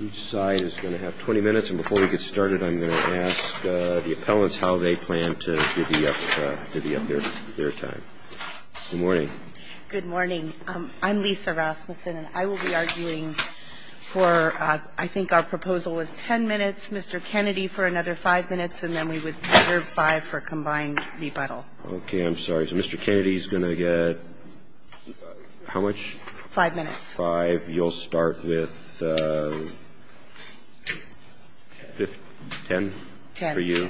Each side is going to have 20 minutes, and before we get started, I'm going to ask the appellants how they plan to divvy up their time. Good morning. Good morning. I'm Lisa Rasmussen, and I will be arguing for I think our proposal is 10 minutes, Mr. Kennedy for another 5 minutes, and then we would reserve 5 for combined rebuttal. Okay. I'm sorry. So Mr. Kennedy is going to get how much? Five minutes. Five. You'll start with 10 for you,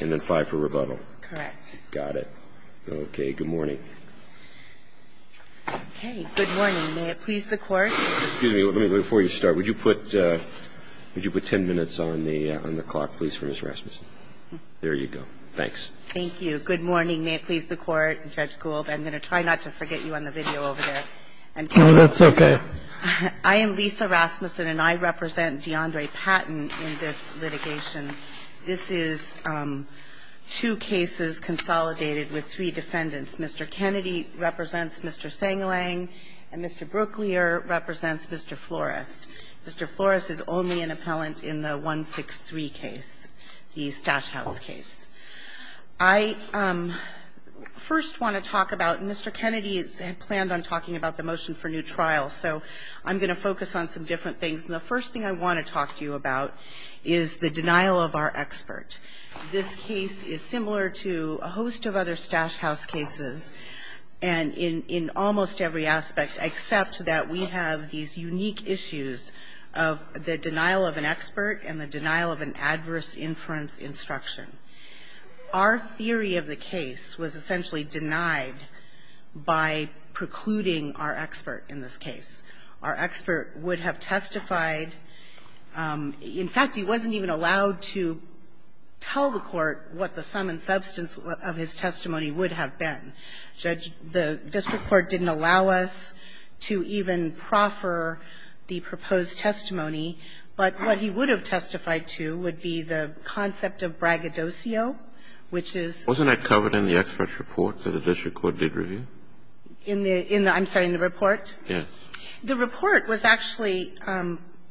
and then 5 for rebuttal. Correct. Got it. Okay. Good morning. Okay. Good morning. May it please the Court. Excuse me. Before you start, would you put 10 minutes on the clock, please, for Ms. Rasmussen? There you go. Thanks. Thank you. Good morning. May it please the Court. Judge Gould, I'm going to try not to forget you on the video over there. No, that's okay. I am Lisa Rasmussen, and I represent DeAndre Patton in this litigation. This is two cases consolidated with three defendants. Mr. Kennedy represents Mr. Sangalang, and Mr. Brooklier represents Mr. Flores. Mr. Flores is only an appellant in the 163 case, the Stash House case. I first want to talk about, and Mr. Kennedy has planned on talking about the motion for new trials, so I'm going to focus on some different things. And the first thing I want to talk to you about is the denial of our expert. This case is similar to a host of other Stash House cases, and in almost every aspect, except that we have these unique issues of the denial of an expert and the denial of an adverse inference instruction. Our theory of the case was essentially denied by precluding our expert in this case. Our expert would have testified. In fact, he wasn't even allowed to tell the Court what the sum and substance of his testimony would have been. The district court didn't allow us to even proffer the proposed testimony, but what he would have testified to would be the concept of braggadocio, which is the. Wasn't that covered in the expert's report that the district court did review? In the – I'm sorry, in the report? Yes. The report was actually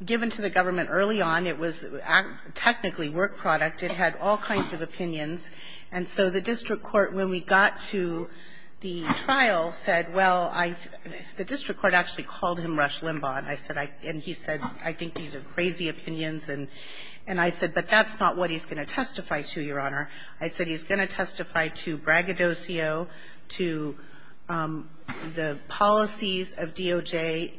given to the government early on. It was technically work product. It had all kinds of opinions. And so the district court, when we got to the trial, said, well, I – the district court actually called him Rush Limbaugh. And I said – and he said, I think these are crazy opinions. And I said, but that's not what he's going to testify to, Your Honor. I said he's going to testify to braggadocio, to the policies of DOJ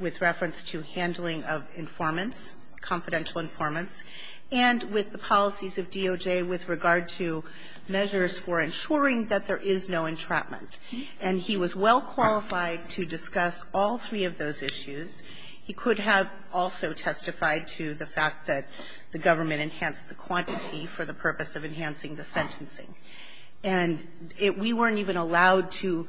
with reference to handling of informants, confidential informants, and with the policies of DOJ with regard to measures for ensuring that there is no entrapment. And he was well qualified to discuss all three of those issues. He could have also testified to the fact that the government enhanced the quantity for the purpose of enhancing the sentencing. And it – we weren't even allowed to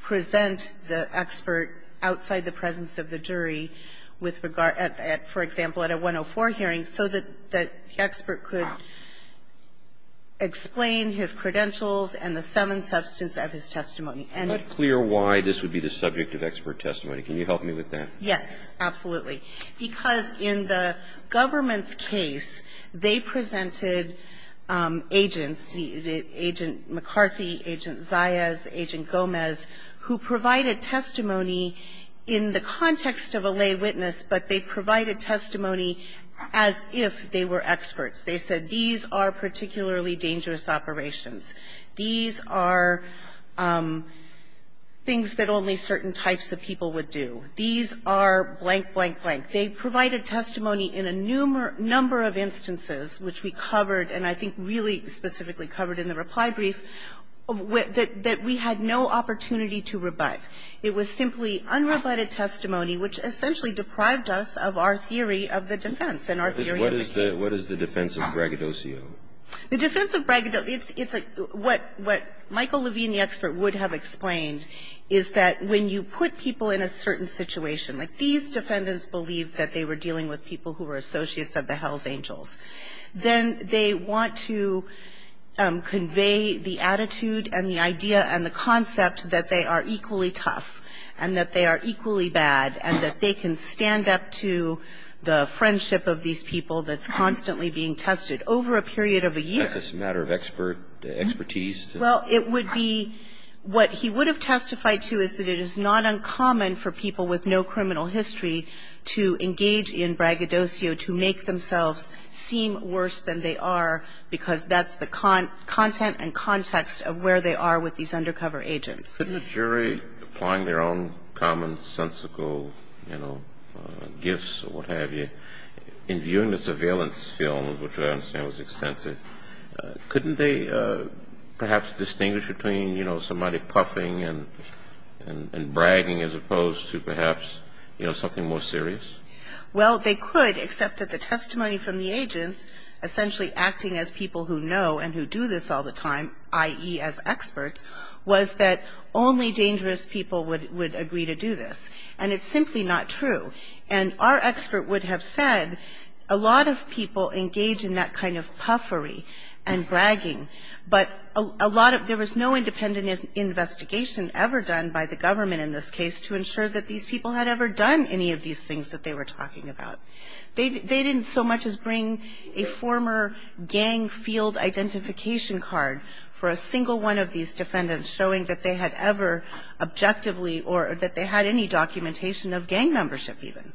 present the expert outside the presence of the jury with regard – at, for example, at a 104 hearing so that the expert could explain his credentials and the sum and substance of his testimony. And the – Roberts. It's not clear why this would be the subject of expert testimony. Can you help me with that? Yes, absolutely. Because in the government's case, they presented agents, Agent McCarthy, Agent Zayas, Agent Gomez, who provided testimony in the context of a lay witness, but they provided testimony as if they were experts. They said, these are particularly dangerous operations. These are things that only certain types of people would do. These are blank, blank, blank. They provided testimony in a number of instances which we covered, and I think really specifically covered in the reply brief, that we had no opportunity to rebut. It was simply unrebutted testimony, which essentially deprived us of our theory of the defense and our theory of the case. What is the defense of braggadocio? The defense of braggadocio, it's a – what Michael Levine, the expert, would have explained is that when you put people in a certain situation, like these defendants believed that they were dealing with people who were associates of the hell's angels, then they want to convey the attitude and the idea and the concept that they are equally tough and that they are equally bad and that they can stand up to the friendship of these people that's constantly being tested over a period of a year. That's just a matter of expert – expertise? Well, it would be – what he would have testified to is that it is not uncommon for people with no criminal history to engage in braggadocio to make themselves seem worse than they are because that's the content and context of where they are with these undercover agents. Couldn't a jury, applying their own commonsensical, you know, gifts or what have you, in viewing the surveillance film, which I understand was extensive, couldn't they perhaps distinguish between, you know, somebody puffing and bragging as opposed to perhaps, you know, something more serious? Well, they could, except that the testimony from the agents, essentially acting as people who know and who do this all the time, i.e. as experts, was that only dangerous people would agree to do this. And it's simply not true. And our expert would have said a lot of people engage in that kind of puffery and bragging, but a lot of – there was no independent investigation ever done by the government in this case to ensure that these people had ever done any of these things that they were talking about. They didn't so much as bring a former gang field identification card for a single one of these defendants showing that they had ever objectively or that they had any documentation of gang membership even.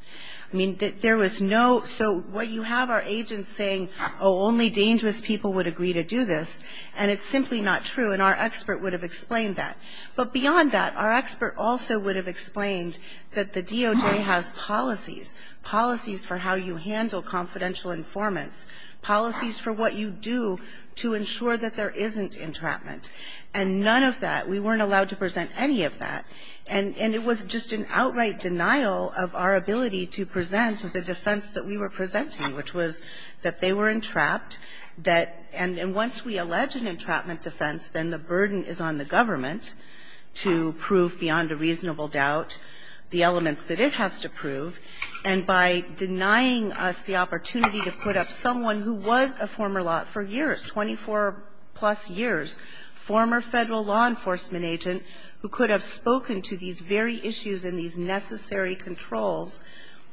I mean, there was no – so what you have are agents saying, oh, only dangerous people would agree to do this, and it's simply not true. And our expert would have explained that. But beyond that, our expert also would have explained that the DOJ has policies, policies for how you handle confidential informants, policies for what you do to ensure that there isn't entrapment. And none of that – we weren't allowed to present any of that, and it was just an outright denial of our ability to present the defense that we were presenting, which was that they were entrapped, that – and once we allege an entrapment defense, then the burden is on the government to prove beyond a reasonable doubt the elements that it has to prove. And by denying us the opportunity to put up someone who was a former law – for years, 24-plus years, former Federal law enforcement agent who could have spoken to these very issues and these necessary controls,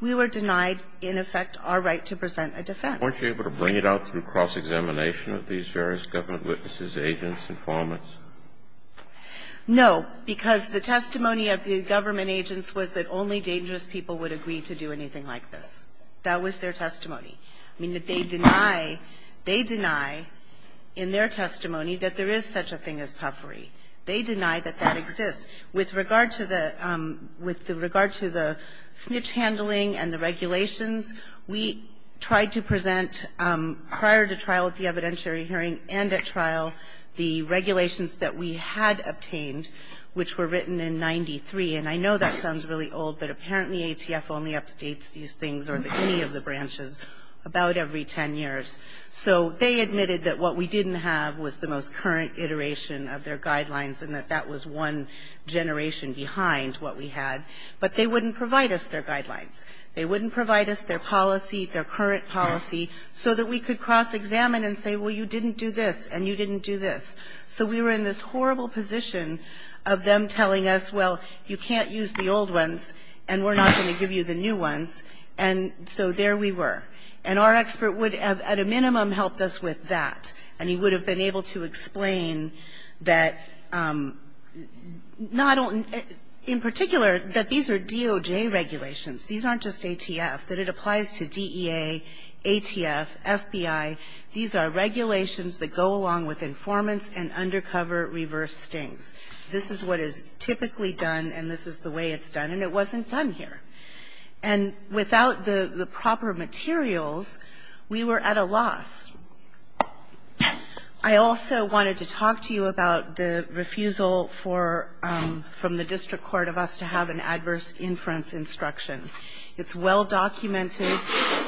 we were denied, in effect, our right to present a defense. Kennedy, weren't you able to bring it out through cross-examination of these various government witnesses, agents, informants? No, because the testimony of the government agents was that only dangerous people would agree to do anything like this. That was their testimony. I mean, they deny – they deny in their testimony that there is such a thing as puffery. They deny that that exists. With regard to the – with regard to the snitch handling and the regulations, we tried to present, prior to trial at the evidentiary hearing and at trial, the regulations that we had obtained, which were written in 93. And I know that sounds really old, but apparently ATF only updates these things or any of the branches about every 10 years. So they admitted that what we didn't have was the most current iteration of their guidelines and that that was one generation behind what we had. But they wouldn't provide us their guidelines. They wouldn't provide us their policy, their current policy, so that we could cross-examine and say, well, you didn't do this and you didn't do this. So we were in this horrible position of them telling us, well, you can't use the old ones and we're not going to give you the new ones. And so there we were. And our expert would have, at a minimum, helped us with that. And he would have been able to explain that not only – in particular, that these are DOJ regulations. These aren't just ATF, that it applies to DEA, ATF, FBI. These are regulations that go along with informants and undercover reverse stings. This is what is typically done and this is the way it's done. And it wasn't done here. And without the proper materials, we were at a loss. I also wanted to talk to you about the refusal for – from the district court of us to have an adverse inference instruction. It's well documented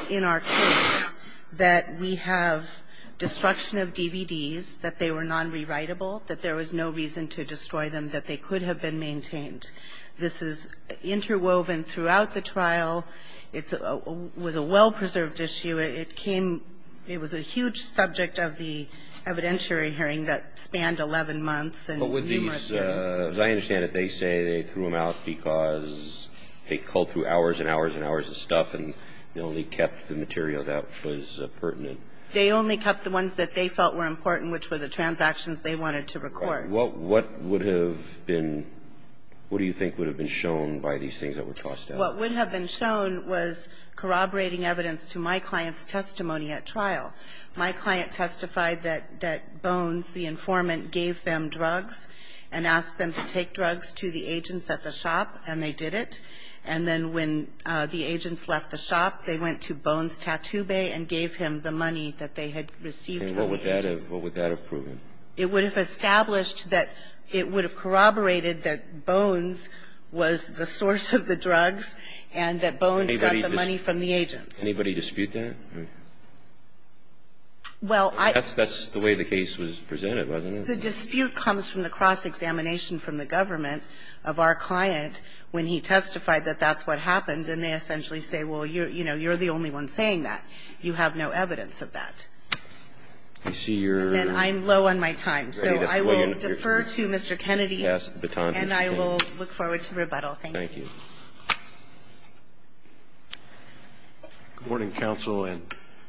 in our case that we have destruction of DVDs, that they were non-rewritable, that there was no reason to destroy them, that they could have been maintained. This is interwoven throughout the trial. It's – with a well-preserved issue, it came – it was a huge subject of the evidentiary hearing that spanned 11 months and numerous hearings. As I understand it, they say they threw them out because they culled through hours and hours and hours of stuff and they only kept the material that was pertinent. They only kept the ones that they felt were important, which were the transactions they wanted to record. What would have been – what do you think would have been shown by these things that were tossed out? What would have been shown was corroborating evidence to my client's testimony at trial. My client testified that Bones, the informant, gave them drugs and asked them to take drugs to the agents at the shop, and they did it. And then when the agents left the shop, they went to Bones' tattoo bay and gave him the money that they had received from the agents. And what would that have proven? It would have established that it would have corroborated that Bones was the source of the drugs and that Bones got the money from the agents. Anybody dispute that? Well, I – That's the way the case was presented, wasn't it? The dispute comes from the cross-examination from the government of our client when he testified that that's what happened, and they essentially say, well, you know, you're the only one saying that. You have no evidence of that. I see you're – And I'm low on my time, so I will defer to Mr. Kennedy, and I will look forward to rebuttal. Thank you. Thank you. Good morning, Counsel, and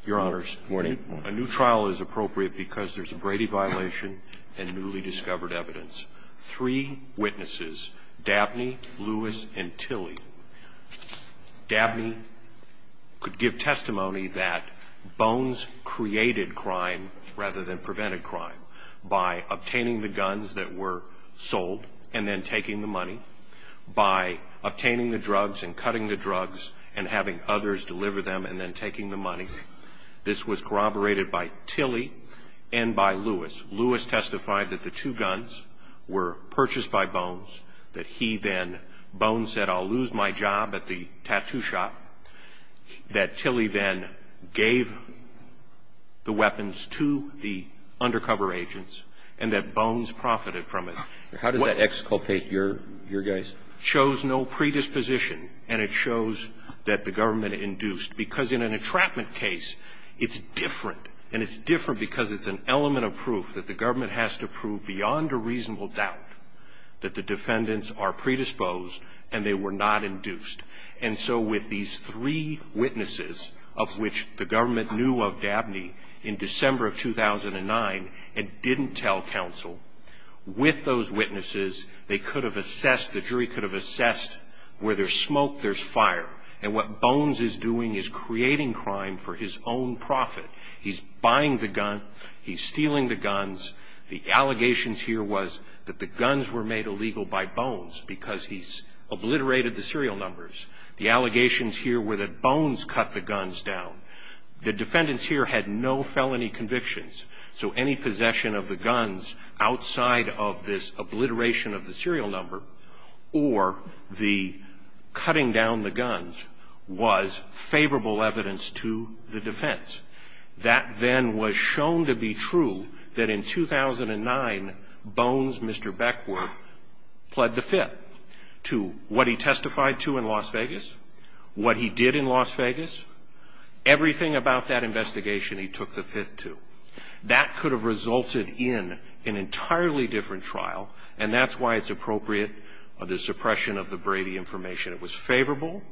Your Honors. Good morning. A new trial is appropriate because there's a Brady violation and newly discovered evidence. Three witnesses, Dabney, Lewis, and Tilley – Dabney could give testimony that Bones created crime rather than prevented crime by obtaining the guns that were in the Tattoo Shop, obtaining the drugs, and cutting the drugs, and having others deliver them, and then taking the money. This was corroborated by Tilley and by Lewis. Lewis testified that the two guns were purchased by Bones, that he then – Bones said, I'll lose my job at the Tattoo Shop, that Tilley then gave the weapons to the undercover agents, and that Bones profited from it. How does that exculpate your guys? It shows no predisposition, and it shows that the government induced. Because in an entrapment case, it's different. And it's different because it's an element of proof that the government has to prove beyond a reasonable doubt that the defendants are predisposed and they were not induced. And so with these three witnesses, of which the government knew of Dabney in December of 2009 and didn't tell counsel, with those witnesses, they could have assessed – the jury could have assessed where there's smoke, there's fire. And what Bones is doing is creating crime for his own profit. He's buying the gun, he's stealing the guns. The allegations here was that the guns were made illegal by Bones because he obliterated the serial numbers. The allegations here were that Bones cut the guns down. The defendants here had no felony convictions. So any possession of the guns outside of this obliteration of the serial number or the cutting down the guns was favorable evidence to the defense. That then was shown to be true that in 2009, Bones, Mr. Beckwith, pled the fifth to what he testified to in Las Vegas, what he did in Las Vegas. Everything about that investigation, he took the fifth to. That could have resulted in an entirely different trial, and that's why it's appropriate of the suppression of the Brady information. It was favorable.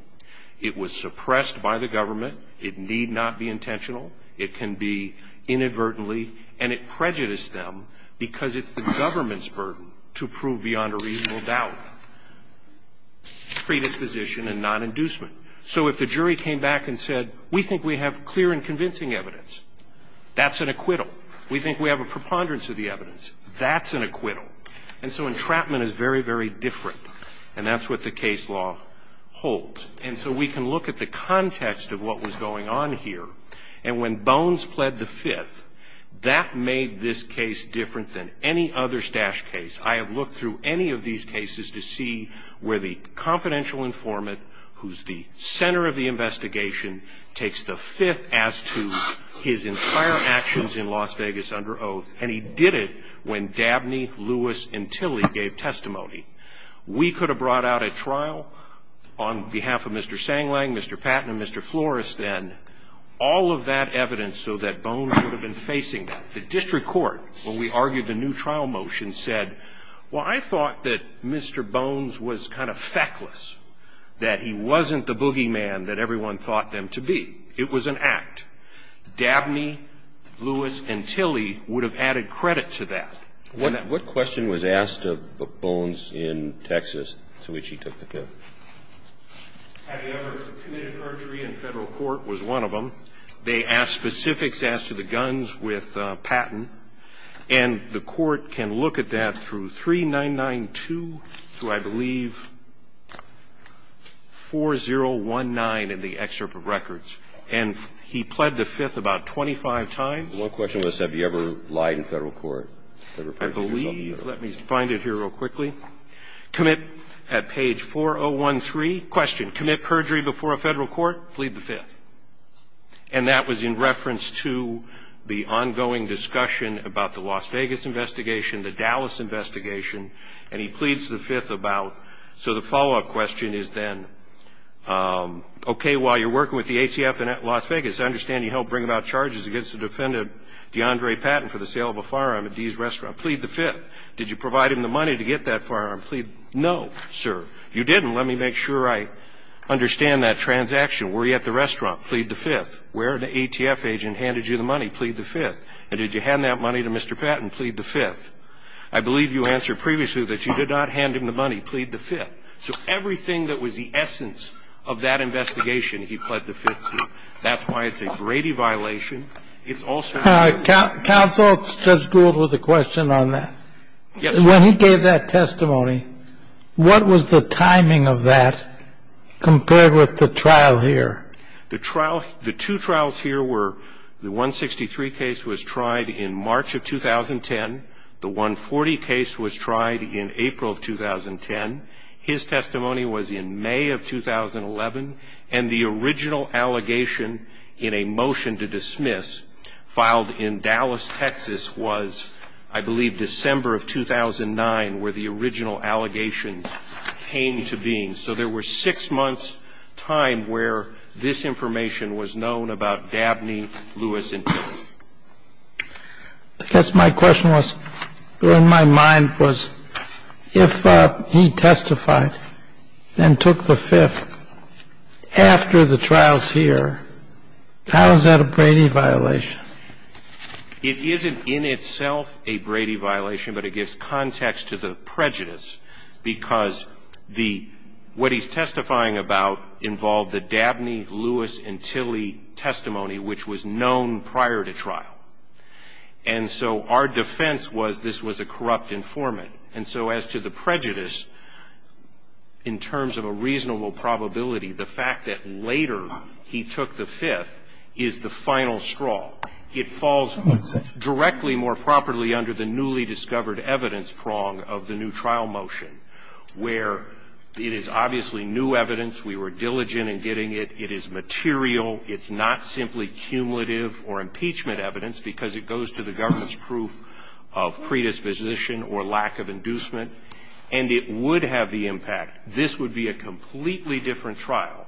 It was suppressed by the government. It need not be intentional. It can be inadvertently, and it prejudiced them because it's the government's burden to prove beyond a reasonable doubt predisposition and non-inducement. So if the jury came back and said, we think we have clear and convincing evidence, that's an acquittal. We think we have a preponderance of the evidence. That's an acquittal. And so entrapment is very, very different, and that's what the case law holds. And so we can look at the context of what was going on here. And when Bones pled the fifth, that made this case different than any other Stash case. I have looked through any of these cases to see where the confidential informant, who's the center of the investigation, takes the fifth as to his entire actions in Las Vegas under oath, and he did it when Dabney, Lewis, and Tilly gave testimony. We could have brought out at trial, on behalf of Mr. Sanglang, Mr. Patton, and Mr. Flores then, all of that evidence so that Bones would have been facing that. The district court, when we argued the new trial motion, said, well, I thought that Mr. Bones was kind of feckless, that he wasn't the boogeyman that everyone thought them to be. It was an act. Dabney, Lewis, and Tilly would have added credit to that. What question was asked of Bones in Texas to which he took the fifth? Had he ever committed a perjury in federal court was one of them. They asked specifics as to the guns with Patton. And the Court can look at that through 3992 to, I believe, 4019 in the excerpt of records, and he pled the fifth about 25 times. One question was, have you ever lied in federal court? I believe, let me find it here real quickly. Commit at page 4013, question, commit perjury before a federal court, plead the fifth. And that was in reference to the ongoing discussion about the Las Vegas investigation, the Dallas investigation, and he pleads the fifth about. So the follow-up question is then, okay, while you're working with the ACF in Las Vegas, I understand you helped bring about charges against the defendant, DeAndre Patton, for the sale of a firearm at Dee's Restaurant. Plead the fifth. Did you provide him the money to get that firearm? Plead, no, sir. You didn't. Let me make sure I understand that transaction. Were you at the restaurant? Plead the fifth. Where did the ATF agent hand you the money? Plead the fifth. And did you hand that money to Mr. Patton? Plead the fifth. I believe you answered previously that you did not hand him the money. Plead the fifth. So everything that was the essence of that investigation, he pled the fifth to. That's why it's a Brady violation. It's also- All right, counsel, Judge Gould has a question on that. Yes. When he gave that testimony, what was the timing of that, compared with the trial here? The two trials here were the 163 case was tried in March of 2010. The 140 case was tried in April of 2010. His testimony was in May of 2011. And the original allegation in a motion to dismiss, filed in Dallas, Texas, was, I believe, December of 2009, where the original allegations came to being. So there were six months' time where this information was known about Dabney, Lewis, and Tillman. I guess my question was, or in my mind was, if he testified and took the fifth after the trials here, how is that a Brady violation? It isn't in itself a Brady violation, but it gives context to the prejudice, because what he's testifying about involved the Dabney, Lewis, and Tilley testimony, which was known prior to trial. And so our defense was this was a corrupt informant. And so as to the prejudice, in terms of a reasonable probability, the fact that later he took the fifth is the final straw. It falls directly, more properly, under the newly discovered evidence prong of the new trial motion, where it is obviously new evidence. We were diligent in getting it. It is material. It's not simply cumulative or impeachment evidence, because it goes to the government's proof of predisposition or lack of inducement. And it would have the impact. This would be a completely different trial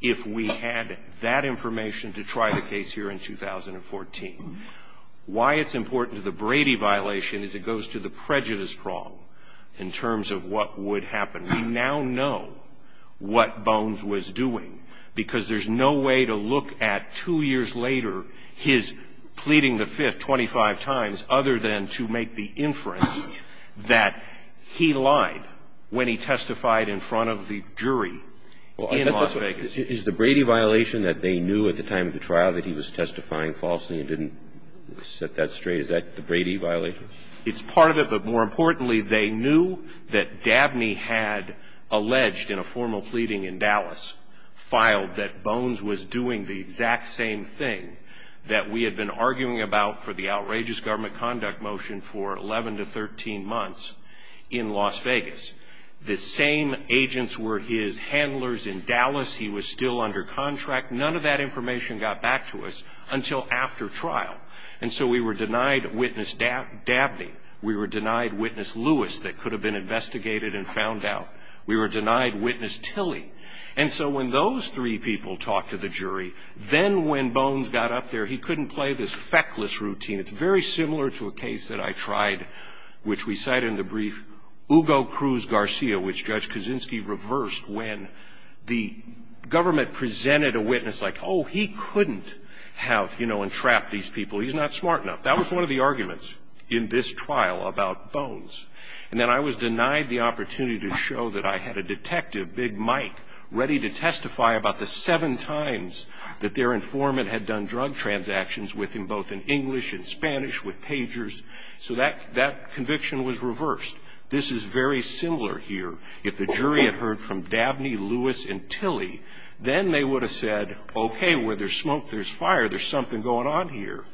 if we had that information to try the case here in 2014. Why it's important to the Brady violation is it goes to the prejudice prong in terms of what would happen. We now know what Bones was doing, because there's no way to look at two years later his pleading the fifth 25 times other than to make the inference that he lied when he testified in front of the jury in Las Vegas. Is the Brady violation that they knew at the time of the trial that he was testifying falsely and didn't set that straight, is that the Brady violation? It's part of it, but more importantly, they knew that Dabney had alleged in a formal pleading in Dallas, filed that Bones was doing the exact same thing that we had been arguing about for the outrageous government conduct motion for 11 to 13 months in Las Vegas. The same agents were his handlers in Dallas. He was still under contract. None of that information got back to us until after trial. And so we were denied witness Dabney. We were denied witness Lewis that could have been investigated and found out. We were denied witness Tilly. And so when those three people talked to the jury, then when Bones got up there, he couldn't play this feckless routine. It's very similar to a case that I tried, which we cite in the brief, Hugo Cruz Garcia, which Judge Kaczynski reversed when the government presented a witness like, oh, he couldn't have entrapped these people, he's not smart enough. That was one of the arguments in this trial about Bones. And then I was denied the opportunity to show that I had a detective, Big Mike, ready to testify about the seven times that their informant had done drug transactions with him, both in English and Spanish with pagers. So that conviction was reversed. This is very similar here. If the jury had heard from Dabney, Lewis, and Tilly, then they would have said, okay, where there's smoke, there's fire, there's something going on here.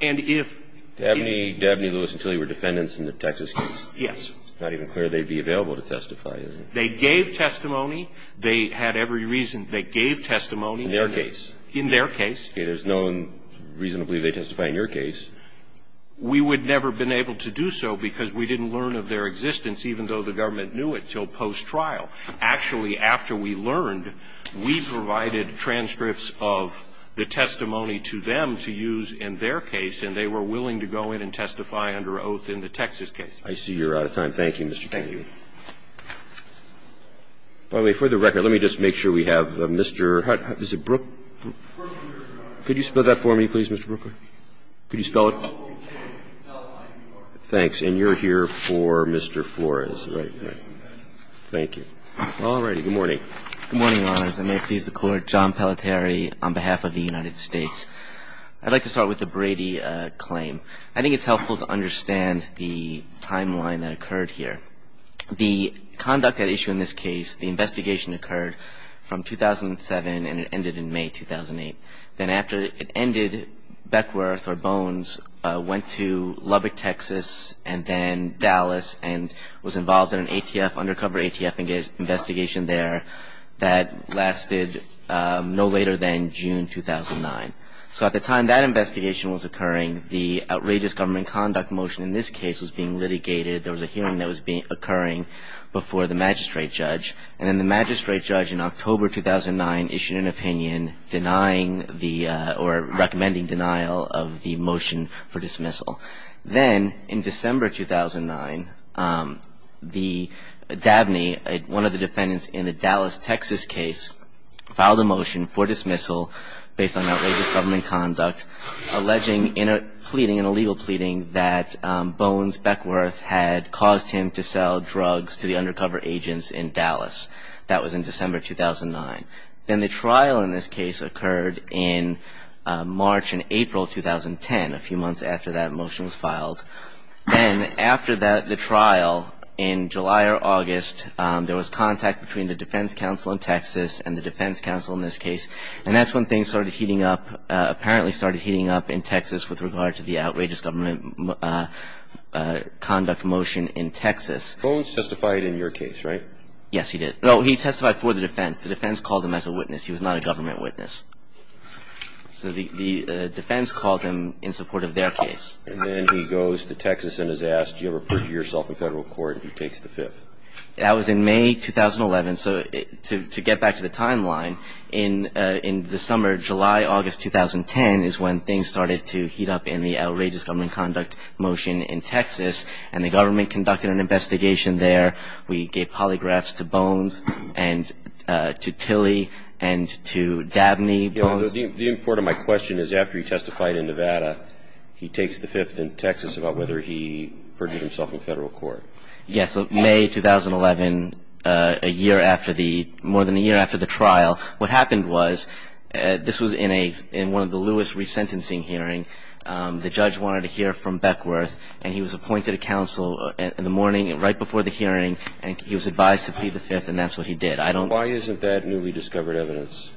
And if- Dabney, Lewis, and Tilly were defendants in the Texas case? Yes. It's not even clear they'd be available to testify, is it? They gave testimony. They had every reason. They gave testimony. In their case? In their case. Okay, there's no reason to believe they testified in your case. We would never have been able to do so because we didn't learn of their existence, even though the government knew it, until post-trial. Actually, after we learned, we provided transcripts of the testimony to them to use in their case, and they were willing to go in and testify under oath in the Texas case. I see you're out of time. Thank you, Mr. Kennedy. Thank you. By the way, for the record, let me just make sure we have Mr. How is it, Brooke? Could you spell that for me, please, Mr. Brookley? Could you spell it? Thanks. And you're here for Mr. Flores, right? Thank you. Alrighty, good morning. Good morning, Your Honors, and may it please the Court, John Pelletieri on behalf of the United States. I'd like to start with the Brady claim. I think it's helpful to understand the timeline that occurred here. The conduct at issue in this case, the investigation occurred from 2007 and it ended in May 2008. Then after it ended, Beckworth or Bones went to Lubbock, Texas, and then Dallas and was involved in an ATF, undercover ATF investigation there that lasted no later than June 2009. So at the time that investigation was occurring, the outrageous government conduct motion in this case was being litigated. There was a hearing that was occurring before the magistrate judge. And then the magistrate judge in October 2009 issued an opinion denying the or recommending denial of the motion for dismissal. Then in December 2009, the DABNY, one of the defendants in the Dallas, Texas case, filed a motion for dismissal based on outrageous government conduct alleging in a pleading, that Bones Beckworth had caused him to sell drugs to the undercover agents in Dallas. That was in December 2009. Then the trial in this case occurred in March and April 2010, a few months after that motion was filed. Then after the trial in July or August, there was contact between the defense counsel in Texas and the defense counsel in this case. And that's when things started heating up, apparently started heating up in Texas with regard to the outrageous government conduct motion in Texas. Bones testified in your case, right? Yes, he did. No, he testified for the defense. The defense called him as a witness. He was not a government witness. So the defense called him in support of their case. And then he goes to Texas and is asked, do you ever put yourself in federal court? He takes the fifth. That was in May 2011. So to get back to the timeline, in the summer, July, August 2010, is when things started to heat up in the outrageous government conduct motion in Texas. And the government conducted an investigation there. We gave polygraphs to Bones and to Tilly and to Dabney. The import of my question is, after he testified in Nevada, he takes the fifth in Texas about whether he put himself in federal court. Yes, so May 2011, a year after the, more than a year after the trial, what happened was, this was in a, in one of the Lewis resentencing hearing. The judge wanted to hear from Beckworth. And he was appointed a counsel in the morning, right before the hearing. And he was advised to plead the fifth. And that's what he did. I don't. Why isn't that newly discovered evidence?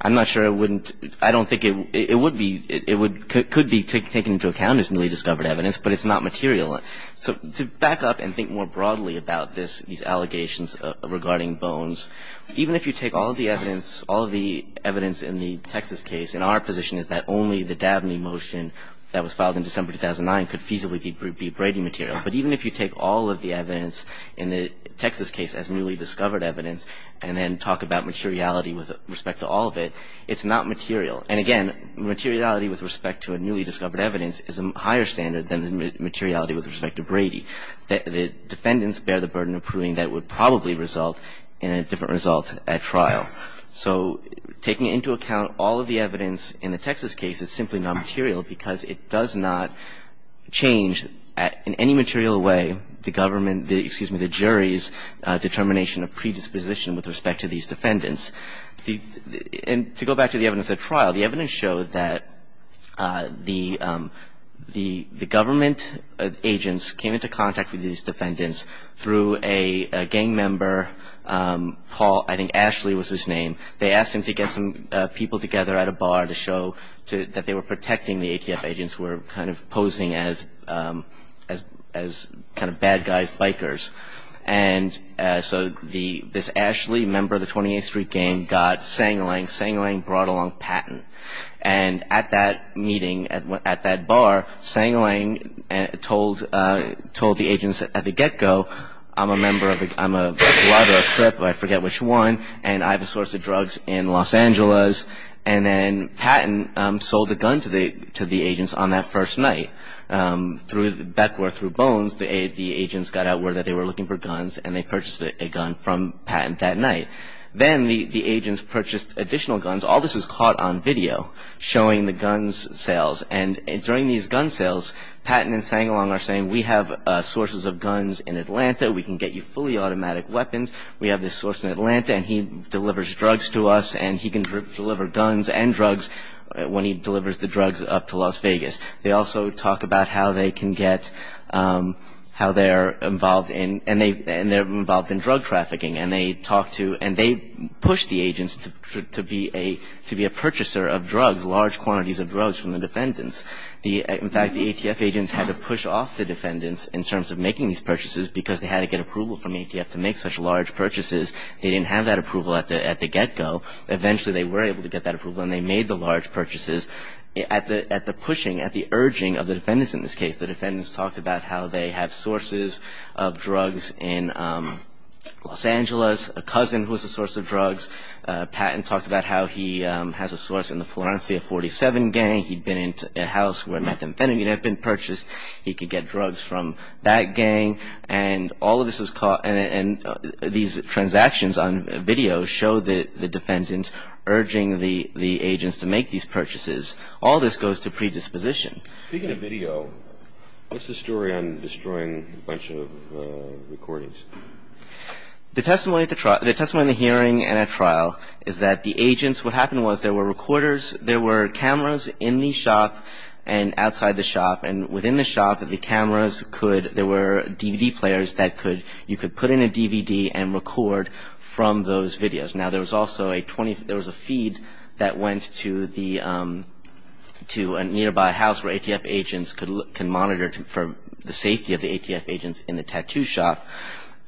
I'm not sure it wouldn't, I don't think it would be, it would, could be taken into account as newly discovered evidence. But it's not material. So to back up and think more broadly about this, these allegations regarding Bones, even if you take all the evidence, all the evidence in the Texas case, and our position is that only the Dabney motion that was filed in December 2009 could feasibly be Brady material. But even if you take all of the evidence in the Texas case as newly discovered evidence, and then talk about materiality with respect to all of it, it's not material. And again, materiality with respect to a newly discovered evidence is a higher standard than the materiality with respect to Brady. The defendants bear the burden of proving that it would probably result in a different result at trial. So taking into account all of the evidence in the Texas case is simply not material because it does not change in any material way the government, excuse me, the jury's determination of predisposition with respect to these defendants. And to go back to the evidence at trial, the evidence showed that the government agents came into contact with these defendants through a gang member, Paul, I think Ashley was his name. They asked him to get some people together at a bar to show that they were protecting the ATF agents who were kind of posing as kind of bad guys, bikers. And so this Ashley, a member of the 28th Street Gang, got Sang-Lang. Sang-Lang brought along Patton. And at that meeting, at that bar, Sang-Lang told the agents at the get-go, I'm a member of the, I'm a blood or a crip, I forget which one, and I have a source of drugs in Los Angeles. And then Patton sold the gun to the agents on that first night. Through the back door, through Bones, the agents got out word that they were looking for guns, and they purchased a gun from Patton that night. Then the agents purchased additional guns. All this is caught on video showing the guns sales. And during these gun sales, Patton and Sang-Lang are saying, we have sources of guns in Atlanta. We can get you fully automatic weapons. We have this source in Atlanta, and he delivers drugs to us. And he can deliver guns and drugs when he delivers the drugs up to Las Vegas. They also talk about how they can get, how they're involved in, and they're involved in drug trafficking. And they talk to, and they push the agents to be a purchaser of drugs, large quantities of drugs from the defendants. In fact, the ATF agents had to push off the defendants in terms of making these purchases because they had to get approval from the ATF to make such large purchases. They didn't have that approval at the get-go. Eventually, they were able to get that approval, and they made the large purchases. At the pushing, at the urging of the defendants in this case, the defendants talked about how they have sources of drugs in Los Angeles. A cousin was a source of drugs. Patton talked about how he has a source in the Florencia 47 gang. He'd been into a house where methamphetamine had been purchased. He could get drugs from that gang. And all of this is caught, and these transactions on video show the defendants urging the agents to make these purchases. All this goes to predisposition. Speaking of video, what's the story on destroying a bunch of recordings? The testimony at the trial, the testimony in the hearing and at trial is that the agents, what happened was there were recorders, there were cameras in the shop and outside the shop. And within the shop, the cameras could, there were DVD players that could, you could put in a DVD and record from those videos. Now, there was also a 20, there was a feed that went to the, to a nearby house where ATF agents could look, can monitor for the safety of the ATF agents in the tattoo shop.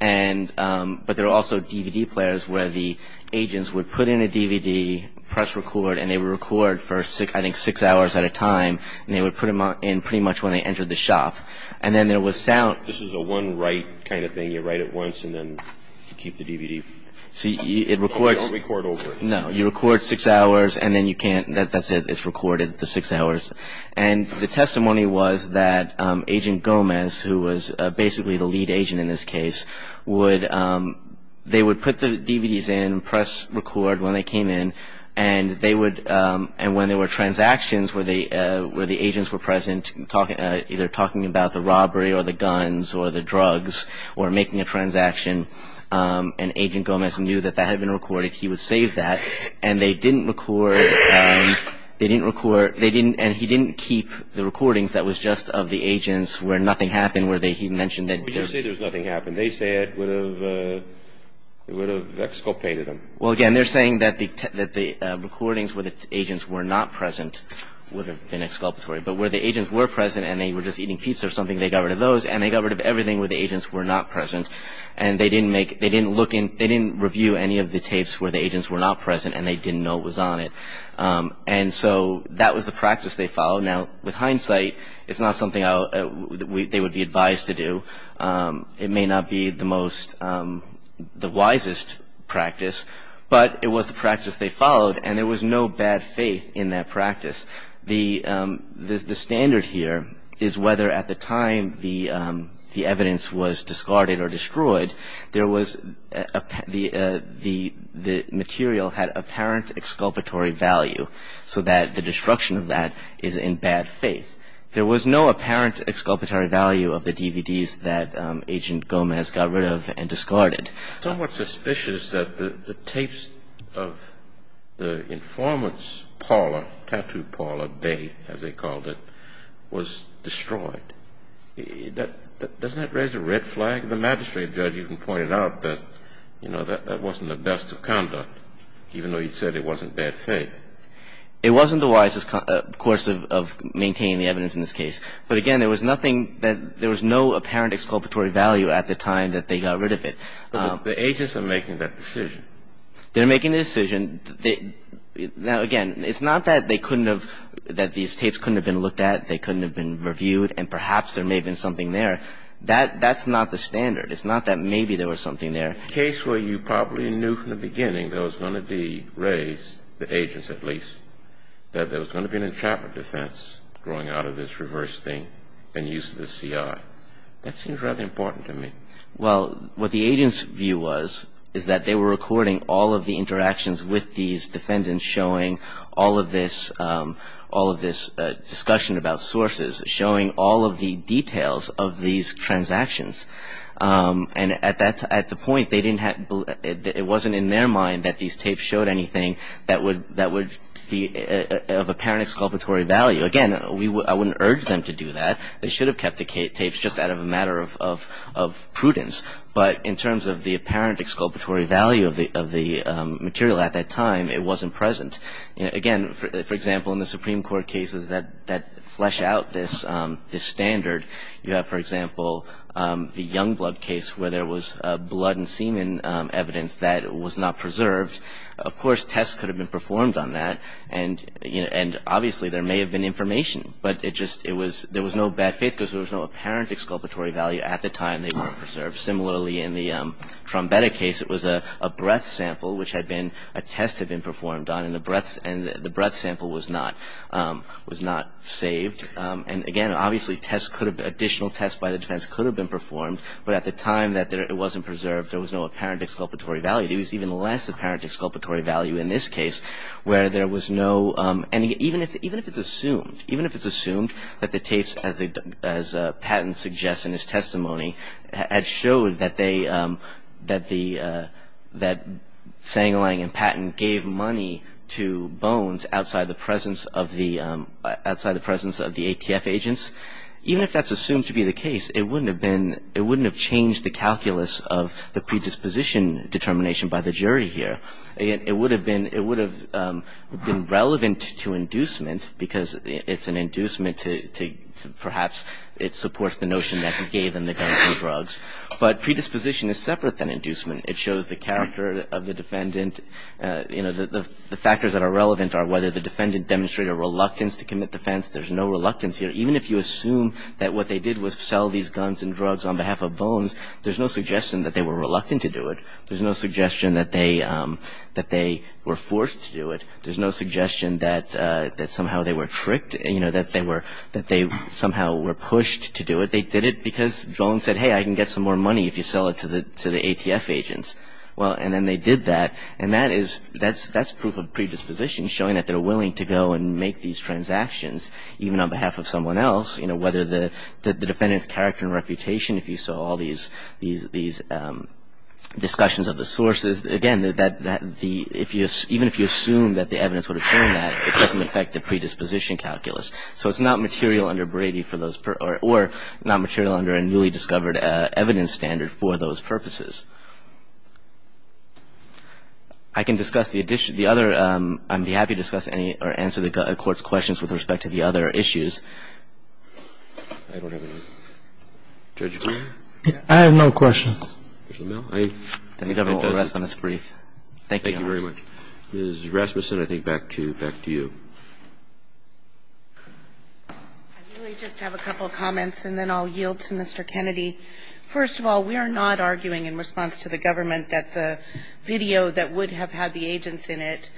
And, but there were also DVD players where the agents would put in a DVD, press record, and they would record for six, I think six hours at a time. And they would put them in pretty much when they entered the shop. And then there was sound. This is a one write kind of thing. You write it once and then keep the DVD. See, it records. Don't record over it. No, you record six hours and then you can't, that's it, it's recorded, the six hours. And the testimony was that Agent Gomez, who was basically the lead agent in this case, would, they would put the DVDs in, press record when they came in. And they would, and when there were transactions where the, where the agents were present, talking, either talking about the robbery or the guns or the drugs, or making a transaction, and Agent Gomez knew that that had been recorded, he would save that, and they didn't record, they didn't record, they didn't, and he didn't keep the recordings that was just of the agents where nothing happened, where they, he mentioned that- What do you say there's nothing happened? They say it would have, it would have exculpated them. Well, again, they're saying that the, that the recordings where the agents were not present would have been exculpatory. But where the agents were present and they were just eating pizza or something, they got rid of those, and they got rid of everything where the agents were not present. And they didn't make, they didn't look in, they didn't review any of the tapes where the agents were not present and they didn't know it was on it. And so that was the practice they followed. Now, with hindsight, it's not something I, they would be advised to do. It may not be the most, the wisest practice, but it was the practice they followed. And there was no bad faith in that practice. The standard here is whether at the time the evidence was discarded or destroyed, there was, the material had apparent exculpatory value, so that the destruction of that is in bad faith. There was no apparent exculpatory value of the DVDs that Agent Gomez got rid of and discarded. It's somewhat suspicious that the tapes of the informant's parlor, tattoo parlor, bay as they called it, was destroyed. Doesn't that raise a red flag? The magistrate judge even pointed out that, you know, that wasn't the best of conduct, even though he said it wasn't bad faith. It wasn't the wisest course of maintaining the evidence in this case. But again, there was nothing that, there was no apparent exculpatory value at the time that they got rid of it. The agents are making that decision. They're making the decision. Now again, it's not that they couldn't have, that these tapes couldn't have been looked at, they couldn't have been reviewed, and perhaps there may have been something there. That's not the standard. It's not that maybe there was something there. Case where you probably knew from the beginning there was going to be raised, the agents at least, that there was going to be an enchantment defense growing out of this reverse thing and use of the CI. That seems rather important to me. Well, what the agents' view was is that they were recording all of the interactions with these defendants showing all of this discussion about sources, showing all of the details of these transactions. And at the point, it wasn't in their mind that these tapes showed anything that would be of apparent exculpatory value. Again, I wouldn't urge them to do that. They should have kept the tapes just out of a matter of prudence. But in terms of the apparent exculpatory value of the material at that time, it wasn't present. Again, for example, in the Supreme Court cases that flesh out this standard, you have, for example, the Youngblood case where there was blood and semen evidence that was not preserved. Of course, tests could have been performed on that. And obviously, there may have been information. But there was no bad faith because there was no apparent exculpatory value at the time they were preserved. Similarly, in the Trombetta case, it was a breath sample which had been, a test had been performed on, and the breath sample was not saved. And again, obviously, additional tests by the defense could have been performed. But at the time that it wasn't preserved, there was no apparent exculpatory value. There was even less apparent exculpatory value in this case, where there was no, and even if it's assumed, even if it's assumed that the tapes, as Patton suggests in his testimony, had showed that they, that the, that Sang-Lang and Patton gave money to Bones outside the presence of the, outside the presence of the ATF agents, even if that's assumed to be the case, it wouldn't have been, it wouldn't have changed the calculus of the predisposition determination by the jury here. It would have been, it would have been relevant to inducement, because it's an inducement to, to perhaps, it supports the notion that he gave them the guns and drugs. But predisposition is separate than inducement. It shows the character of the defendant. You know, the, the, the factors that are relevant are whether the defendant demonstrated a reluctance to commit defense. There's no reluctance here. Even if you assume that what they did was sell these guns and drugs on behalf of Bones, there's no suggestion that they were reluctant to do it. There's no suggestion that they that they were forced to do it. There's no suggestion that that somehow they were tricked, you know, that they were, that they somehow were pushed to do it. They did it because Jones said, hey, I can get some more money if you sell it to the, to the ATF agents. Well, and then they did that, and that is, that's, that's proof of predisposition, showing that they're willing to go and make these transactions, even on behalf of someone else. You know, whether the, the, the defendant's character and reputation, if you saw all these, these, these discussions of the sources. Again, that, that, the, if you, even if you assume that the evidence would have shown that, it doesn't affect the predisposition calculus. So it's not material under Brady for those, or, or not material under a newly discovered evidence standard for those purposes. I can discuss the addition, the other, I'd be happy to discuss any, or answer the court's questions with respect to the other issues. I don't have any. Judge? I have no questions. Commissioner Mill, are you? I need to have a little rest on this brief. Thank you. Thank you very much. Ms. Rasmussen, I think back to, back to you. I really just have a couple of comments, and then I'll yield to Mr. Kennedy. First of all, we are not arguing in response to the government that the video that would have had the agents in it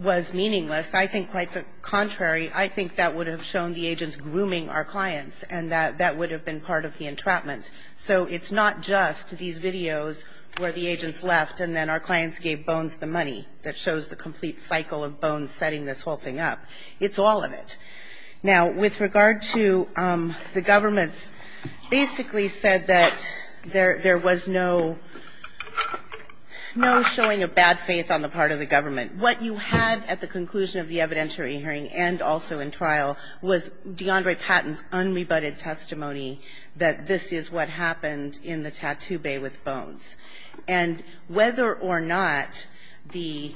was meaningless. I think quite the contrary. I think that would have shown the agents grooming our clients, and that, that would have been part of the entrapment. So it's not just these videos where the agents left and then our clients gave Bones the money that shows the complete cycle of Bones setting this whole thing up, it's all of it. Now, with regard to the government's basically said that there, there was no, no showing of bad faith on the part of the government. What you had at the conclusion of the evidentiary hearing and also in trial was DeAndre Patton's unrebutted testimony that this is what happened in the tattoo bay with Bones. And whether or not the,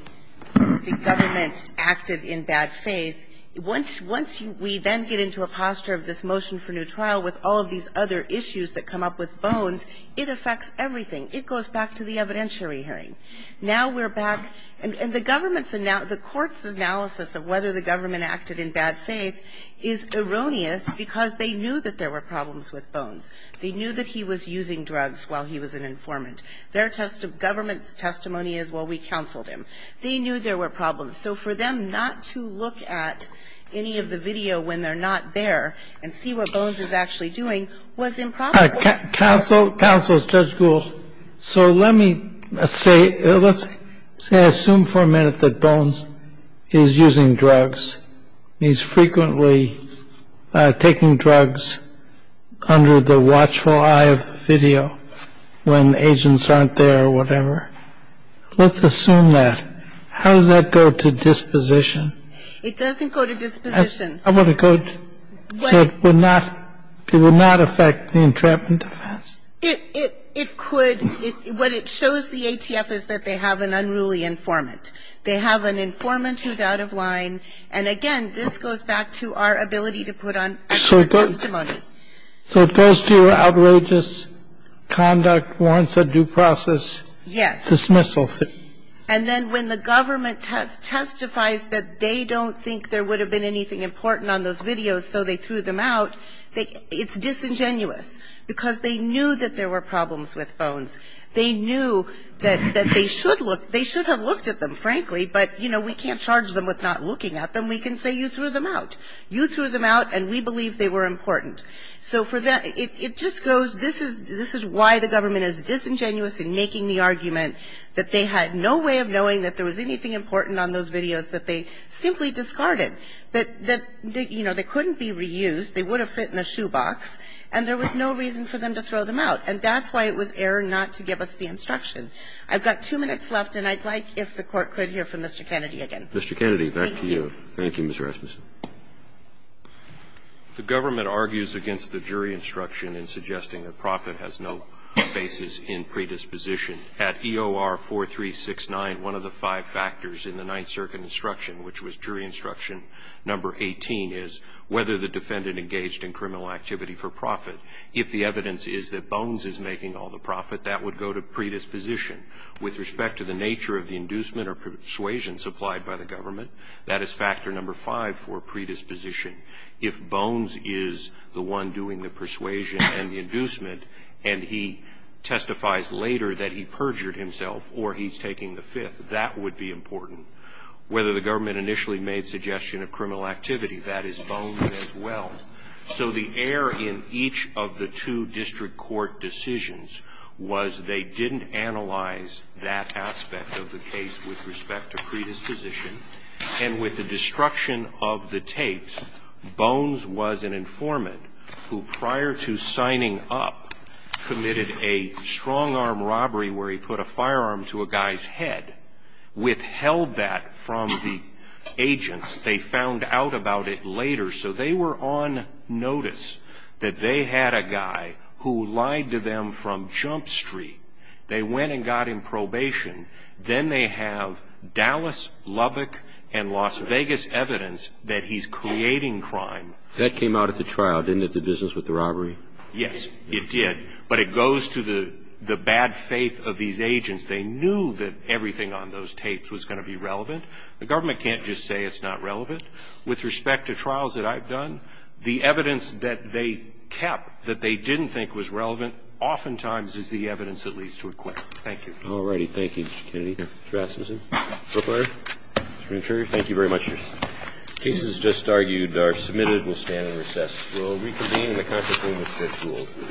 the government acted in bad faith, once, once you, we then get into a posture of this motion for new trial with all of these other issues that come up with Bones, it affects everything, it goes back to the evidentiary hearing. Now we're back, and, and the government's ana, the court's analysis of whether the government acted in bad faith is erroneous because they knew that there were problems with Bones. They knew that he was using drugs while he was an informant. Their test, government's testimony is, well, we counseled him. They knew there were problems. So for them not to look at any of the video when they're not there and see what Bones is actually doing was improper. Counsel, counsel, Judge Gould. So let me, let's say, let's assume for a minute that Bones is using drugs. He's frequently taking drugs under the watchful eye of video when agents aren't there or whatever. Let's assume that. How does that go to disposition? It doesn't go to disposition. How about it go to, so it would not, it would not affect the entrapment defense? It, it, it could, it, what it shows the ATF is that they have an unruly informant. They have an informant who's out of line. And again, this goes back to our ability to put on extra testimony. So it goes to outrageous conduct, warrants a due process. Yes. Dismissal. And then when the government testifies that they don't think there would have been anything important on those videos, so they threw them out, it's disingenuous. Because they knew that there were problems with Bones. They knew that, that they should look, they should have looked at them, frankly. But, you know, we can't charge them with not looking at them. We can say you threw them out. You threw them out and we believe they were important. So for that, it, it just goes, this is, this is why the government is disingenuous in making the argument that they had no way of knowing that there was anything important on those videos that they simply discarded. That, that, you know, they couldn't be reused. They would have fit in a shoebox. And there was no reason for them to throw them out. And that's why it was error not to give us the instruction. I've got two minutes left and I'd like if the Court could hear from Mr. Kennedy again. Mr. Kennedy, back to you. Thank you, Mr. Rasmussen. The government argues against the jury instruction in suggesting that Profitt has no basis in predisposition. At EOR 4369, one of the five factors in the Ninth Circuit instruction, which was jury instruction number 18, is whether the defendant engaged in criminal activity for Profitt. If the evidence is that Bones is making all the profit, that would go to predisposition. With respect to the nature of the inducement or persuasion supplied by the government, that is factor number five for predisposition. If Bones is the one doing the persuasion and the inducement, and he testifies later that he perjured himself, or he's taking the fifth, that would be important. Whether the government initially made suggestion of criminal activity, that is Bones as well. So the error in each of the two district court decisions was they didn't analyze that aspect of the case with respect to predisposition. And with the destruction of the tapes, Bones was an informant who, prior to signing up, committed a strong arm robbery where he put a firearm to a guy's head, withheld that from the agents. They found out about it later. So they were on notice that they had a guy who lied to them from Jump Street. They went and got him probation. Then they have Dallas, Lubbock, and Las Vegas evidence that he's creating crime. That came out at the trial, didn't it, the business with the robbery? Yes, it did. But it goes to the bad faith of these agents. They knew that everything on those tapes was going to be relevant. The government can't just say it's not relevant. With respect to trials that I've done, the evidence that they kept that they didn't think was relevant, oftentimes is the evidence that leads to acquitment. Thank you. All righty. Thank you, Mr. Kennedy, Mr. Rasmussen, Mr. Brooklier, Mr. McChurry. Thank you very much. Cases just argued are submitted. We'll stand and recess. We'll reconvene in the conference room at 3 o'clock.